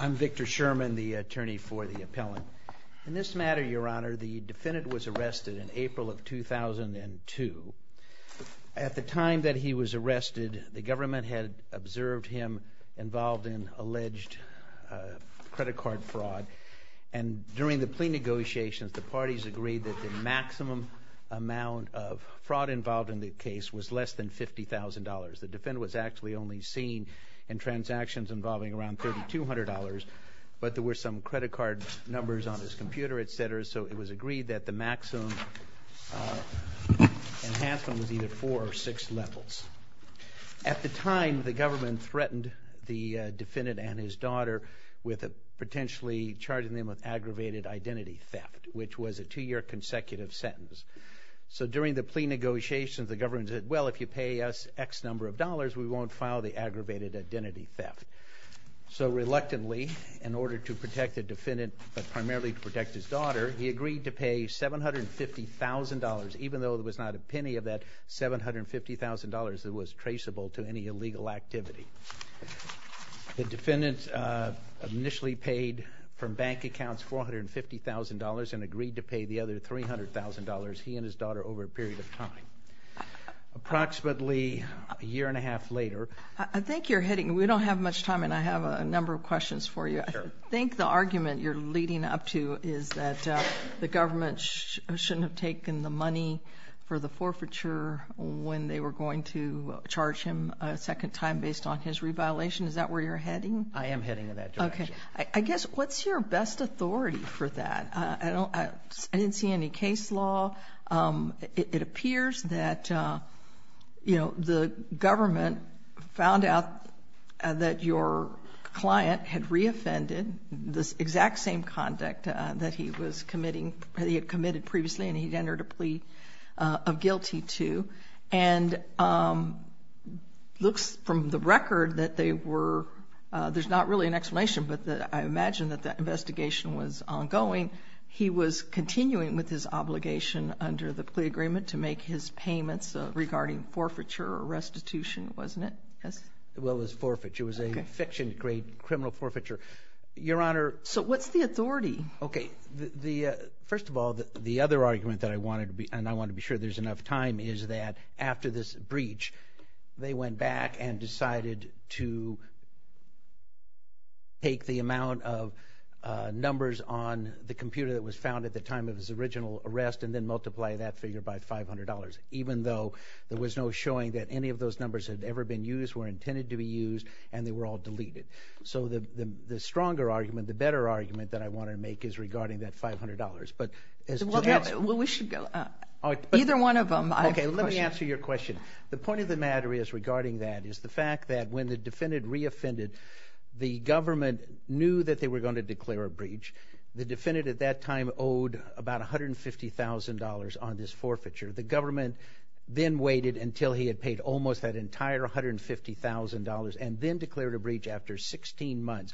I'm Victor Sherman, the attorney for the appellant. In this matter, Your Honor, the defendant was arrested in April of 2002. At the time that he was arrested, the government had observed him involved in alleged credit card fraud. And during the plea negotiations, the parties agreed that the maximum amount of fraud involved in the case was less than $50,000. The defendant was actually only seen in transactions involving around $3,200, but there were some credit card numbers on his computer, etc. So it was agreed that the maximum enhancement was either four or six levels. At the time, the government threatened the defendant and his daughter with potentially charging them with aggravated identity theft, which was a two-year consecutive sentence. So during the plea negotiations, the government said, well, if you pay us X number of dollars, we won't file the aggravated identity theft. So reluctantly, in order to protect the defendant, but primarily to protect his daughter, he agreed to pay $750,000, even though there was not a penny of that $750,000 that was traceable to any illegal activity. The defendant initially paid from bank accounts $450,000 and agreed to pay the other $300,000, he and his daughter, over a period of time. Approximately a year and a half later. I think you're hitting, we don't have much time and I have a number of questions for you. I think the argument you're leading up to is that the government shouldn't have taken the money for the forfeiture when they were going to charge him a second time based on his reviolation. Is that where you're heading? I am heading in that direction. Okay. I guess, what's your best authority for that? I don't, I didn't see any case law. It appears that, you know, the government found out that your client had re-offended the exact same conduct that he was committing, that he had committed previously and he'd entered a plea of guilty to. And it looks from the record that they were, there's not really an explanation, but I imagine that that investigation was ongoing. He was continuing with his obligation under the plea agreement to make his payments regarding forfeiture or restitution, wasn't it? Yes. Well, it was forfeiture. It was a fiction-grade criminal forfeiture. Your Honor. So what's the authority? Okay. The, first of all, the other argument that I wanted to be, and I want to be sure there's enough time, is that after this breach they went back and decided to take the amount of numbers on the computer that was found at the time of his original arrest and then multiply that figure by $500, even though there was no showing that any of those numbers had ever been used, were intended to be used, and they were all deleted. So the stronger argument, the better argument that I want to make is regarding that $500. Well, we should go. Either one of them. Okay. Let me answer your question. The point of the matter is regarding that is the fact that when the defendant reoffended, the government knew that they were going to declare a breach. The defendant at that time owed about $150,000 on this forfeiture. The government then waited until he had paid almost that entire $150,000 and then declared a breach after 16 months.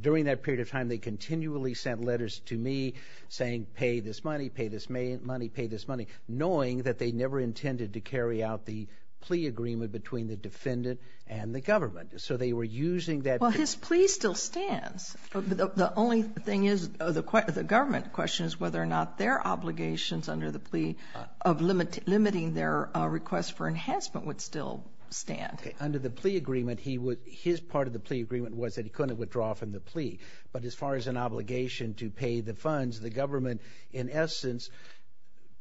During that period of time they continually sent letters to me saying pay this money, pay this money, pay this money, knowing that they never intended to carry out the plea agreement between the defendant and the government. So they were using that. Well, his plea still stands. The only thing is the government questions whether or not their obligations under the plea of limiting their request for enhancement would still stand. Okay. Under the plea agreement, his part of the plea agreement was that he couldn't withdraw from the plea. But as far as an obligation to pay the funds, the government, in essence,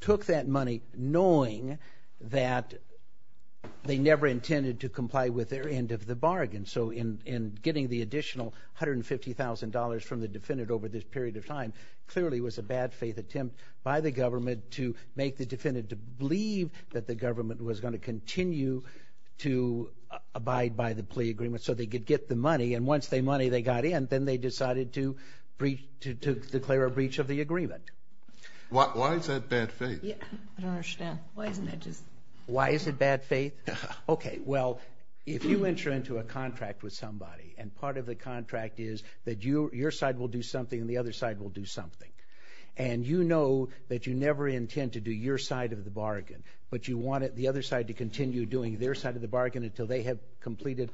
took that money knowing that they never intended to comply with their end of the bargain. So in getting the additional $150,000 from the defendant over this period of time clearly was a bad faith attempt by the government to make the defendant believe that the government was going to continue to abide by the plea agreement so they could get the money. And once the money, they got in, then they decided to declare a breach of the agreement. Why is that bad faith? I don't understand. Why isn't it just? Why is it bad faith? Okay. Well, if you enter into a contract with somebody and part of the contract is that your side will do something and the other side will do something, and you know that you never intend to do your side of the bargain, but you want the other side to continue doing their side of the bargain until they have completed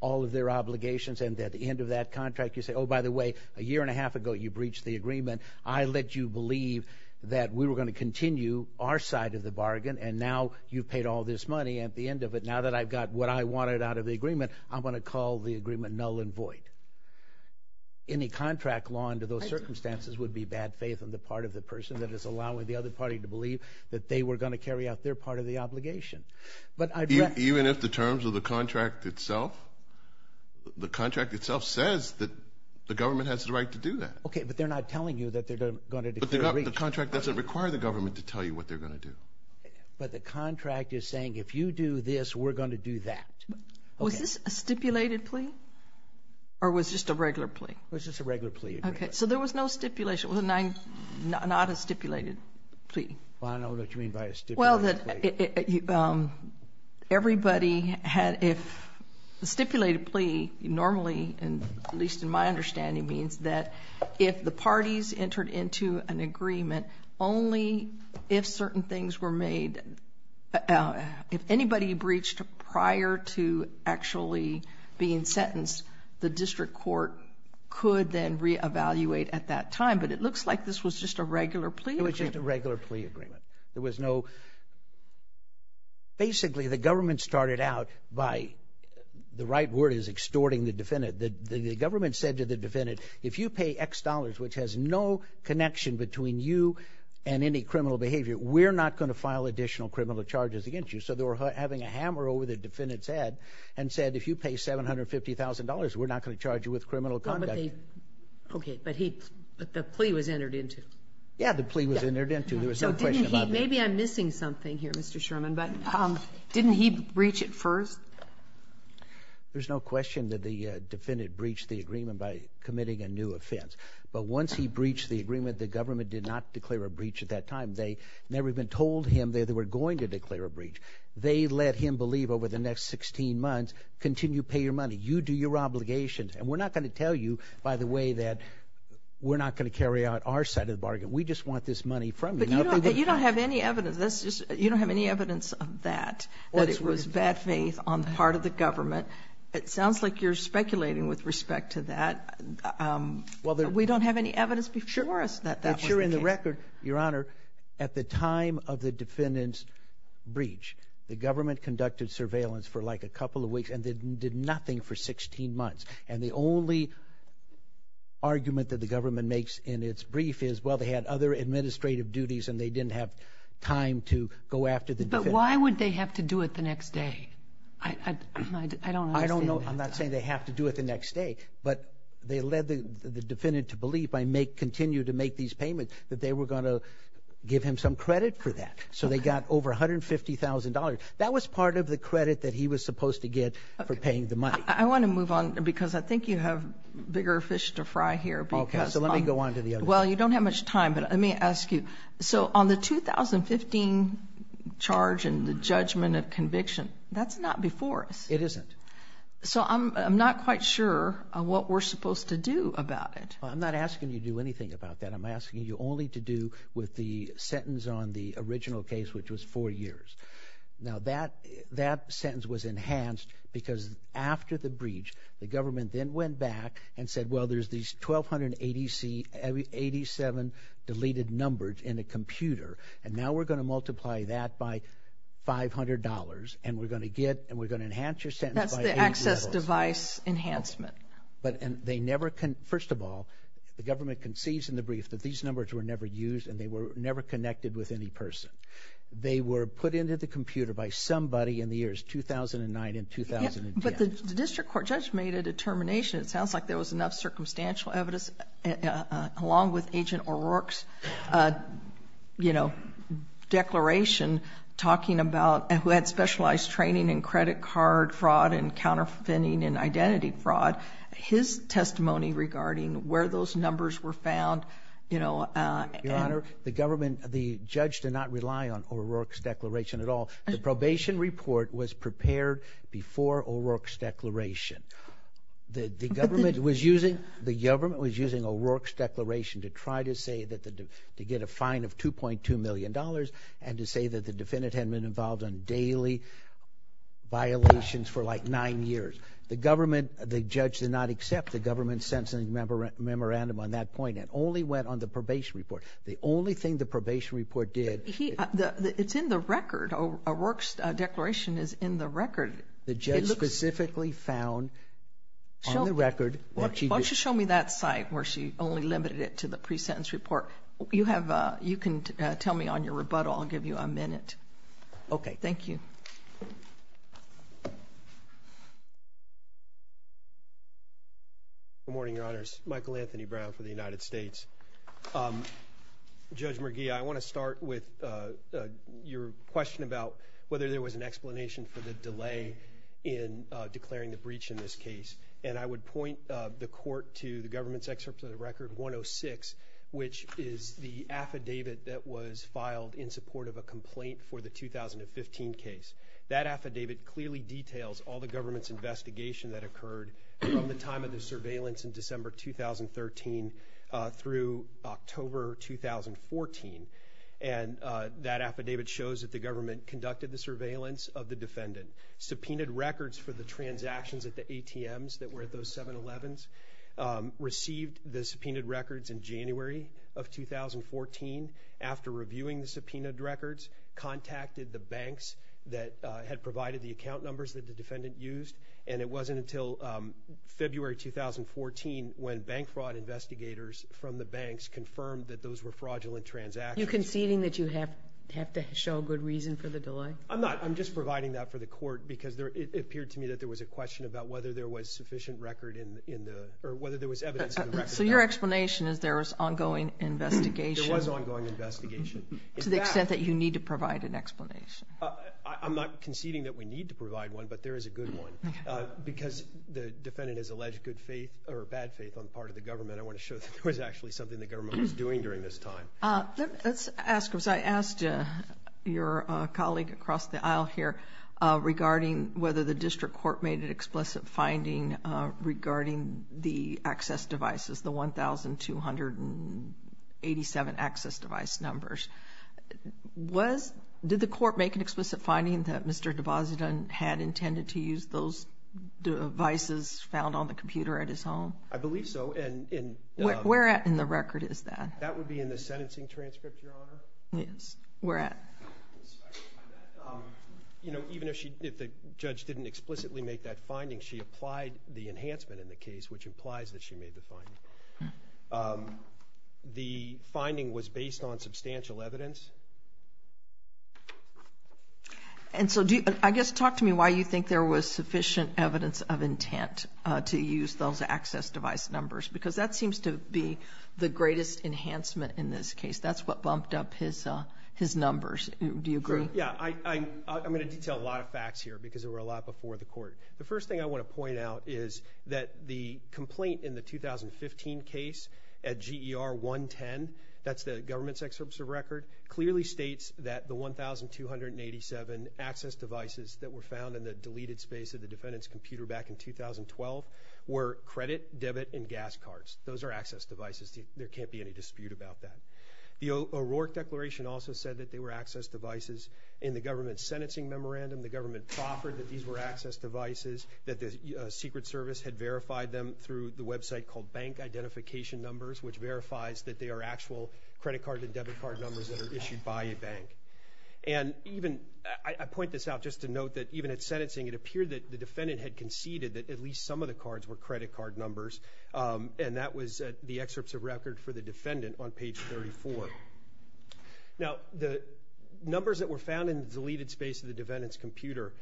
all of their obligations and at the end of that contract you say, oh, by the way, a year and a half ago you breached the agreement. I let you believe that we were going to continue our side of the bargain, and now you've paid all this money and at the end of it, now that I've got what I wanted out of the agreement, I'm going to call the agreement null and void. Any contract law under those circumstances would be bad faith on the part of the person that is allowing the other party to believe that they were going to carry out their part of the obligation. Even if the terms of the contract itself, the contract itself says that the government has the right to do that. Okay, but they're not telling you that they're going to declare a breach. But the contract doesn't require the government to tell you what they're going to do. But the contract is saying if you do this, we're going to do that. Was this a stipulated plea or was just a regular plea? It was just a regular plea. Okay. So there was no stipulation. It was not a stipulated plea. I don't know what you mean by a stipulated plea. Well, that everybody had if the stipulated plea normally, at least in my understanding, means that if the parties entered into an agreement, only if certain things were made, if anybody breached prior to actually being sentenced, the district court could then reevaluate at that time. But it looks like this was just a regular plea. It was just a regular plea agreement. There was no, basically the government started out by, the right word is extorting the defendant. The government said to the defendant, if you pay X dollars, which has no connection between you and any criminal behavior, we're not going to file additional criminal charges against you. So they were having a hammer over the defendant's head and said, if you pay $750,000, we're not going to charge you with criminal conduct. Okay. But the plea was entered into. Yeah, the plea was entered into. There was no question about it. Maybe I'm missing something here, Mr. Sherman, but didn't he breach it first? There's no question that the defendant breached the agreement by committing a new offense. But once he breached the agreement, the government did not declare a breach at that time. They never even told him that they were going to declare a breach. They let him believe over the next 16 months, continue to pay your money. You do your obligations. And we're not going to tell you, by the way, that we're not going to carry out our side of the bargain. We just want this money from you. But you don't have any evidence. You don't have any evidence of that, that it was bad faith on part of the government. It sounds like you're speculating with respect to that. We don't have any evidence before us that that was the case. Sure. In the record, Your Honor, at the time of the defendant's breach, the government conducted surveillance for like a couple of weeks and did nothing for 16 months. And the only argument that the government makes in its brief is, well, they had other administrative duties and they didn't have time to go after the defendant. But why would they have to do it the next day? I don't understand that. I don't know. I'm not saying they have to do it the next day. But they led the defendant to believe, by continue to make these payments, that they were going to give him some credit for that. So they got over $150,000. That was part of the credit that he was supposed to get for paying the money. I want to move on because I think you have bigger fish to fry here. Okay. So let me go on to the other thing. Well, you don't have much time, but let me ask you. So on the 2015 charge and the judgment of conviction, that's not before us. It isn't. So I'm not quite sure what we're supposed to do about it. I'm not asking you to do anything about that. I'm asking you only to do with the sentence on the original case, which was four years. Now, that sentence was enhanced because after the breach, the government then went back and said, well, there's these 1,287 deleted numbers in a computer, and now we're going to multiply that by $500, and we're going to enhance your sentence by 80 levels. That's the access device enhancement. First of all, the government concedes in the brief that these numbers were never used and they were never connected with any person. They were put into the computer by somebody in the years 2009 and 2010. But the district court judge made a determination. It sounds like there was enough circumstantial evidence, along with Agent O'Rourke's declaration talking about who had specialized training in credit card fraud and counterfeiting and identity fraud. His testimony regarding where those numbers were found, you know. Your Honor, the government, the judge did not rely on O'Rourke's declaration at all. The probation report was prepared before O'Rourke's declaration. The government was using O'Rourke's declaration to try to get a fine of $2.2 million and to say that the defendant had been involved in daily violations for like nine years. The government, the judge did not accept the government's sentencing memorandum on that point and only went on the probation report. The only thing the probation report did. It's in the record. O'Rourke's declaration is in the record. The judge specifically found on the record. Why don't you show me that site where she only limited it to the pre-sentence report. You can tell me on your rebuttal. I'll give you a minute. Okay. Thank you. Good morning, Your Honors. Michael Anthony Brown for the United States. Judge McGee, I want to start with your question about whether there was an explanation for the delay in declaring the breach in this case. And I would point the court to the government's excerpt of the record 106, which is the affidavit that was filed in support of a complaint for the 2015 case. That affidavit clearly details all the government's investigation that occurred from the time of the surveillance in December 2013 through October 2014. And that affidavit shows that the government conducted the surveillance of the defendant, subpoenaed records for the transactions at the ATMs that were at those 7-Elevens, received the subpoenaed records in January of 2014. After reviewing the subpoenaed records, contacted the banks that had provided the account numbers that the defendant used, and it wasn't until February 2014 when bank fraud investigators from the banks confirmed that those were fraudulent transactions. Are you conceding that you have to show a good reason for the delay? I'm not. I'm just providing that for the court because it appeared to me that there was a question about whether there was sufficient record in the or whether there was evidence in the record. So your explanation is there was ongoing investigation. To the extent that you need to provide an explanation. I'm not conceding that we need to provide one, but there is a good one. Okay. Because the defendant has alleged good faith or bad faith on the part of the government, I want to show that there was actually something the government was doing during this time. Let's ask, because I asked your colleague across the aisle here regarding whether the district court made an explicit finding regarding the access devices, the 1,287 access device numbers. Did the court make an explicit finding that Mr. DeBasida had intended to use those devices found on the computer at his home? I believe so. Where at in the record is that? That would be in the sentencing transcript, Your Honor. Yes. Where at? Even if the judge didn't explicitly make that finding, she applied the enhancement in the case, which implies that she made the finding. The finding was based on substantial evidence. And so I guess talk to me why you think there was sufficient evidence of intent to use those access device numbers, because that seems to be the greatest enhancement in this case. That's what bumped up his numbers. Do you agree? Yeah. I'm going to detail a lot of facts here because they were a lot before the court. The first thing I want to point out is that the complaint in the 2015 case at GER 110, that's the government's excerpt of record, clearly states that the 1,287 access devices that were found in the deleted space of the defendant's computer back in 2012 were credit, debit, and gas cards. Those are access devices. There can't be any dispute about that. The O'Rourke Declaration also said that they were access devices in the government's sentencing memorandum. The government proffered that these were access devices, that the Secret Service had verified them through the website called Bank Identification Numbers, which verifies that they are actual credit card and debit card numbers that are issued by a bank. And I point this out just to note that even at sentencing, it appeared that the defendant had conceded that at least some of the cards were credit card numbers, and that was the excerpts of record for the defendant on page 34. Now, the numbers that were found in the deleted space of the defendant's computer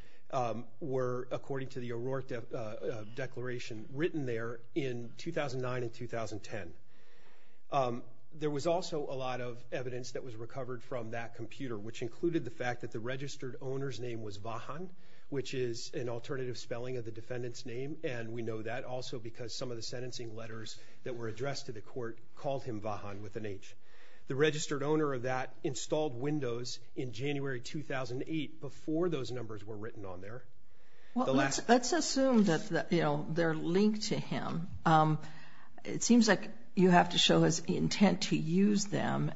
were, according to the O'Rourke Declaration, written there in 2009 and 2010. There was also a lot of evidence that was recovered from that computer, which included the fact that the registered owner's name was Vahan, which is an alternative spelling of the defendant's name, and we know that also because some of the sentencing letters that were addressed to the court called him Vahan with an H. The registered owner of that installed Windows in January 2008 before those numbers were written on there. Let's assume that they're linked to him. It seems like you have to show his intent to use them,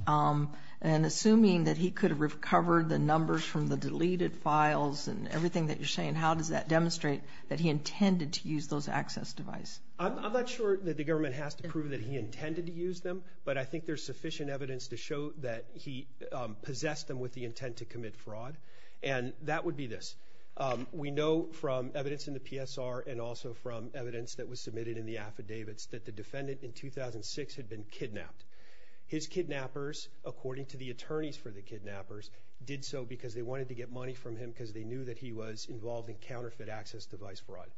and assuming that he could have recovered the numbers from the deleted files and everything that you're saying, how does that demonstrate that he intended to use those access devices? I'm not sure that the government has to prove that he intended to use them, but I think there's sufficient evidence to show that he possessed them with the intent to commit fraud, and that would be this. We know from evidence in the PSR and also from evidence that was submitted in the affidavits that the defendant in 2006 had been kidnapped. His kidnappers, according to the attorneys for the kidnappers, did so because they wanted to get money from him because they knew that he was involved in counterfeit access device fraud.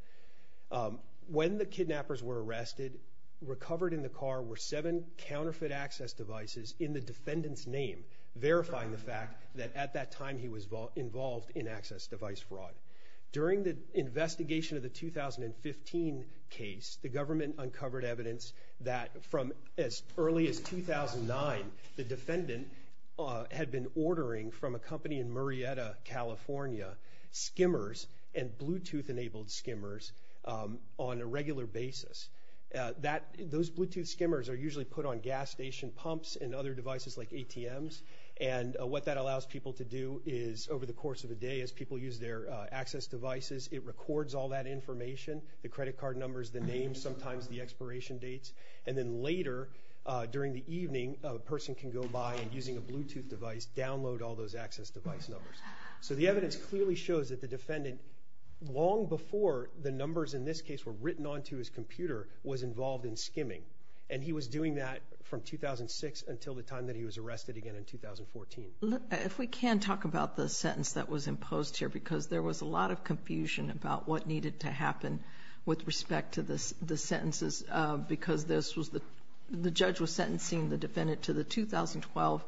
When the kidnappers were arrested, recovered in the car were seven counterfeit access devices in the defendant's name, verifying the fact that at that time he was involved in access device fraud. During the investigation of the 2015 case, the government uncovered evidence that from as early as 2009, the defendant had been ordering from a company in Murrieta, California, skimmers and Bluetooth-enabled skimmers on a regular basis. Those Bluetooth skimmers are usually put on gas station pumps and other devices like ATMs, and what that allows people to do is over the course of a day, as people use their access devices, it records all that information, the credit card numbers, the names, sometimes the expiration dates, and then later during the evening, a person can go by and using a Bluetooth device, download all those access device numbers. So the evidence clearly shows that the defendant, long before the numbers in this case were written onto his computer, was involved in skimming, and he was doing that from 2006 until the time that he was arrested again in 2014. If we can talk about the sentence that was imposed here because there was a lot of confusion about what needed to happen with respect to the sentences because the judge was sentencing the defendant to the 2012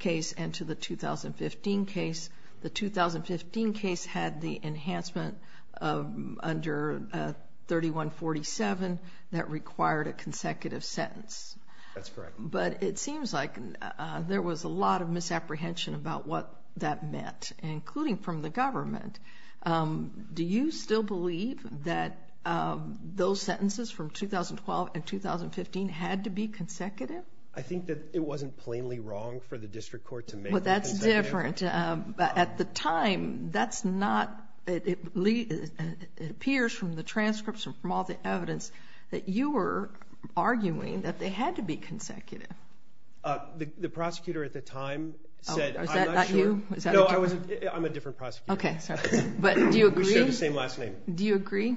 case and to the 2015 case. The 2015 case had the enhancement under 3147 that required a consecutive sentence. That's correct. But it seems like there was a lot of misapprehension about what that meant, including from the government. Do you still believe that those sentences from 2012 and 2015 had to be consecutive? I think that it wasn't plainly wrong for the district court to make them consecutive. But that's different. At the time, it appears from the transcripts and from all the evidence that you were arguing that they had to be consecutive. The prosecutor at the time said I'm not sure. Is that not you? No, I'm a different prosecutor. Okay, sorry. But do you agree? We share the same last name. Do you agree?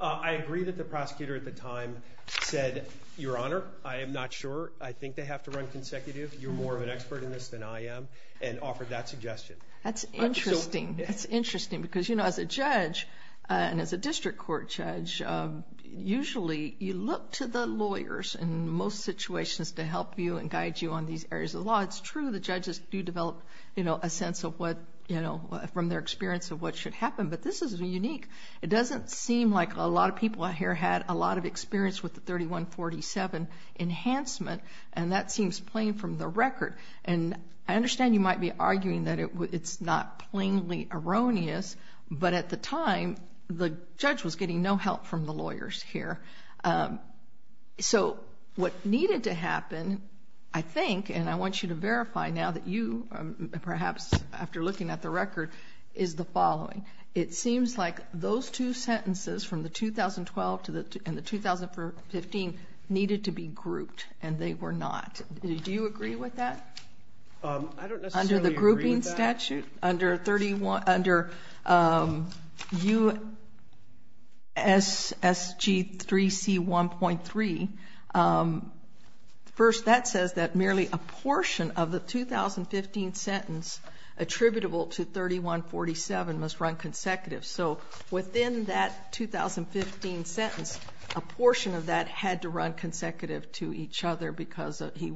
I agree that the prosecutor at the time said, Your Honor, I am not sure. I think they have to run consecutive. You're more of an expert in this than I am, and offered that suggestion. That's interesting. That's interesting because, you know, as a judge and as a district court judge, usually you look to the lawyers in most situations to help you and guide you on these areas of the law. It's true the judges do develop, you know, a sense of what, you know, from their experience of what should happen, but this is unique. It doesn't seem like a lot of people here had a lot of experience with the 3147 enhancement, and that seems plain from the record. And I understand you might be arguing that it's not plainly erroneous, but at the time the judge was getting no help from the lawyers here. So what needed to happen, I think, and I want you to verify now that you, perhaps after looking at the record, is the following. It seems like those two sentences from the 2012 and the 2015 needed to be grouped, and they were not. Do you agree with that? I don't necessarily agree with that. Under the statute, under U.S.S.G.3C.1.3, first that says that merely a portion of the 2015 sentence attributable to 3147 must run consecutive. So within that 2015 sentence, a portion of that had to run consecutive to each other because he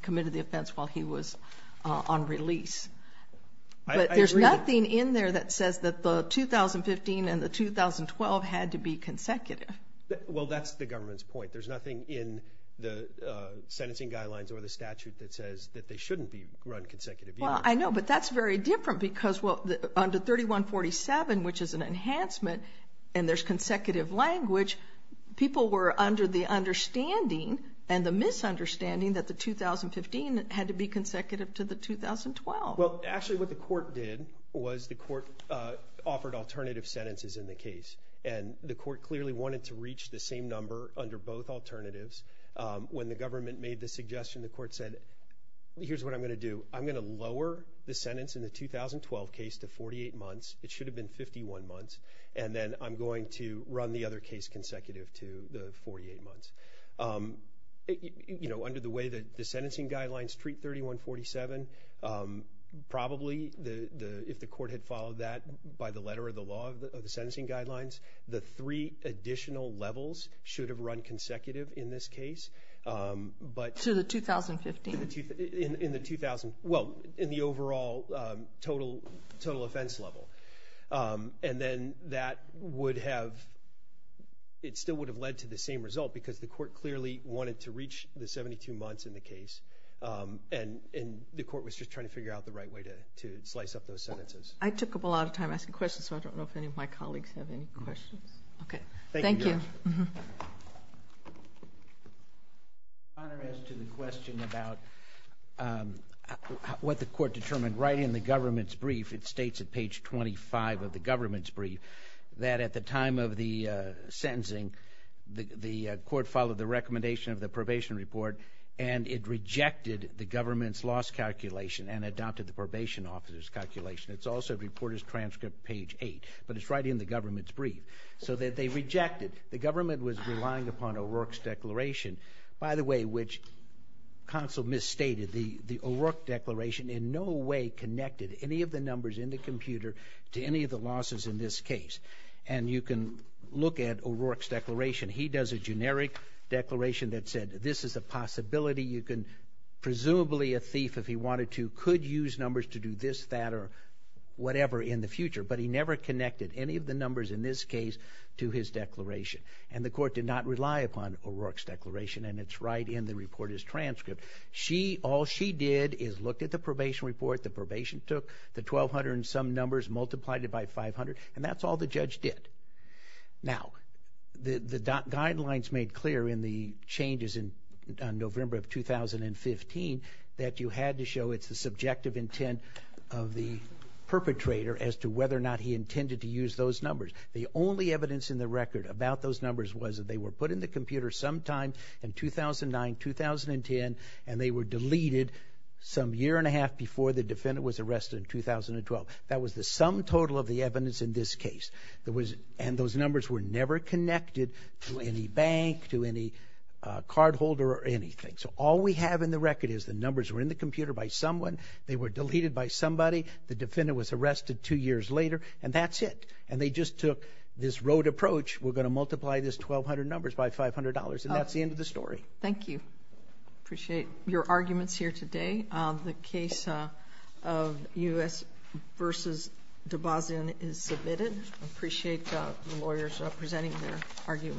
committed the offense while he was on release. But there's nothing in there that says that the 2015 and the 2012 had to be consecutive. Well, that's the government's point. There's nothing in the sentencing guidelines or the statute that says that they shouldn't run consecutive either. Well, I know, but that's very different because under 3147, which is an enhancement and there's consecutive language, people were under the understanding and the misunderstanding that the 2015 had to be consecutive to the 2012. Well, actually what the court did was the court offered alternative sentences in the case, and the court clearly wanted to reach the same number under both alternatives. When the government made the suggestion, the court said, here's what I'm going to do. I'm going to lower the sentence in the 2012 case to 48 months. It should have been 51 months. And then I'm going to run the other case consecutive to the 48 months. You know, under the way that the sentencing guidelines treat 3147, probably if the court had followed that by the letter of the law of the sentencing guidelines, the three additional levels should have run consecutive in this case. To the 2015? In the 2000, well, in the overall total offense level. And then that would have, it still would have led to the same result because the court clearly wanted to reach the 72 months in the case, and the court was just trying to figure out the right way to slice up those sentences. I took up a lot of time asking questions, so I don't know if any of my colleagues have any questions. Okay. Thank you. Honor has to the question about what the court determined. Right in the government's brief, it states at page 25 of the government's brief, that at the time of the sentencing the court followed the recommendation of the probation report, and it rejected the government's loss calculation and adopted the probation officer's calculation. It's also reported as transcript page 8, but it's right in the government's brief. So they rejected. The government was relying upon O'Rourke's declaration, by the way, which counsel misstated. The O'Rourke declaration in no way connected any of the numbers in the computer to any of the losses in this case. And you can look at O'Rourke's declaration. He does a generic declaration that said this is a possibility you can, presumably a thief if he wanted to, could use numbers to do this, that, or whatever in the future, but he never connected any of the numbers in this case to his declaration. And the court did not rely upon O'Rourke's declaration, and it's right in the reporter's transcript. All she did is look at the probation report. The probation took the 1,200 and some numbers, multiplied it by 500, and that's all the judge did. Now, the guidelines made clear in the changes in November of 2015 that you had to show it's the subjective intent of the perpetrator as to whether or not he intended to use those numbers. The only evidence in the record about those numbers was that they were put in the computer sometime in 2009, 2010, and they were deleted some year and a half before the defendant was arrested in 2012. That was the sum total of the evidence in this case. And those numbers were never connected to any bank, to any cardholder, or anything. So all we have in the record is the numbers were in the computer by someone, they were deleted by somebody, the defendant was arrested two years later, and that's it. And they just took this rote approach, we're going to multiply this 1,200 numbers by $500, and that's the end of the story. Thank you. I appreciate your arguments here today. The case of U.S. v. Dabazin is submitted. I appreciate the lawyers presenting their arguments.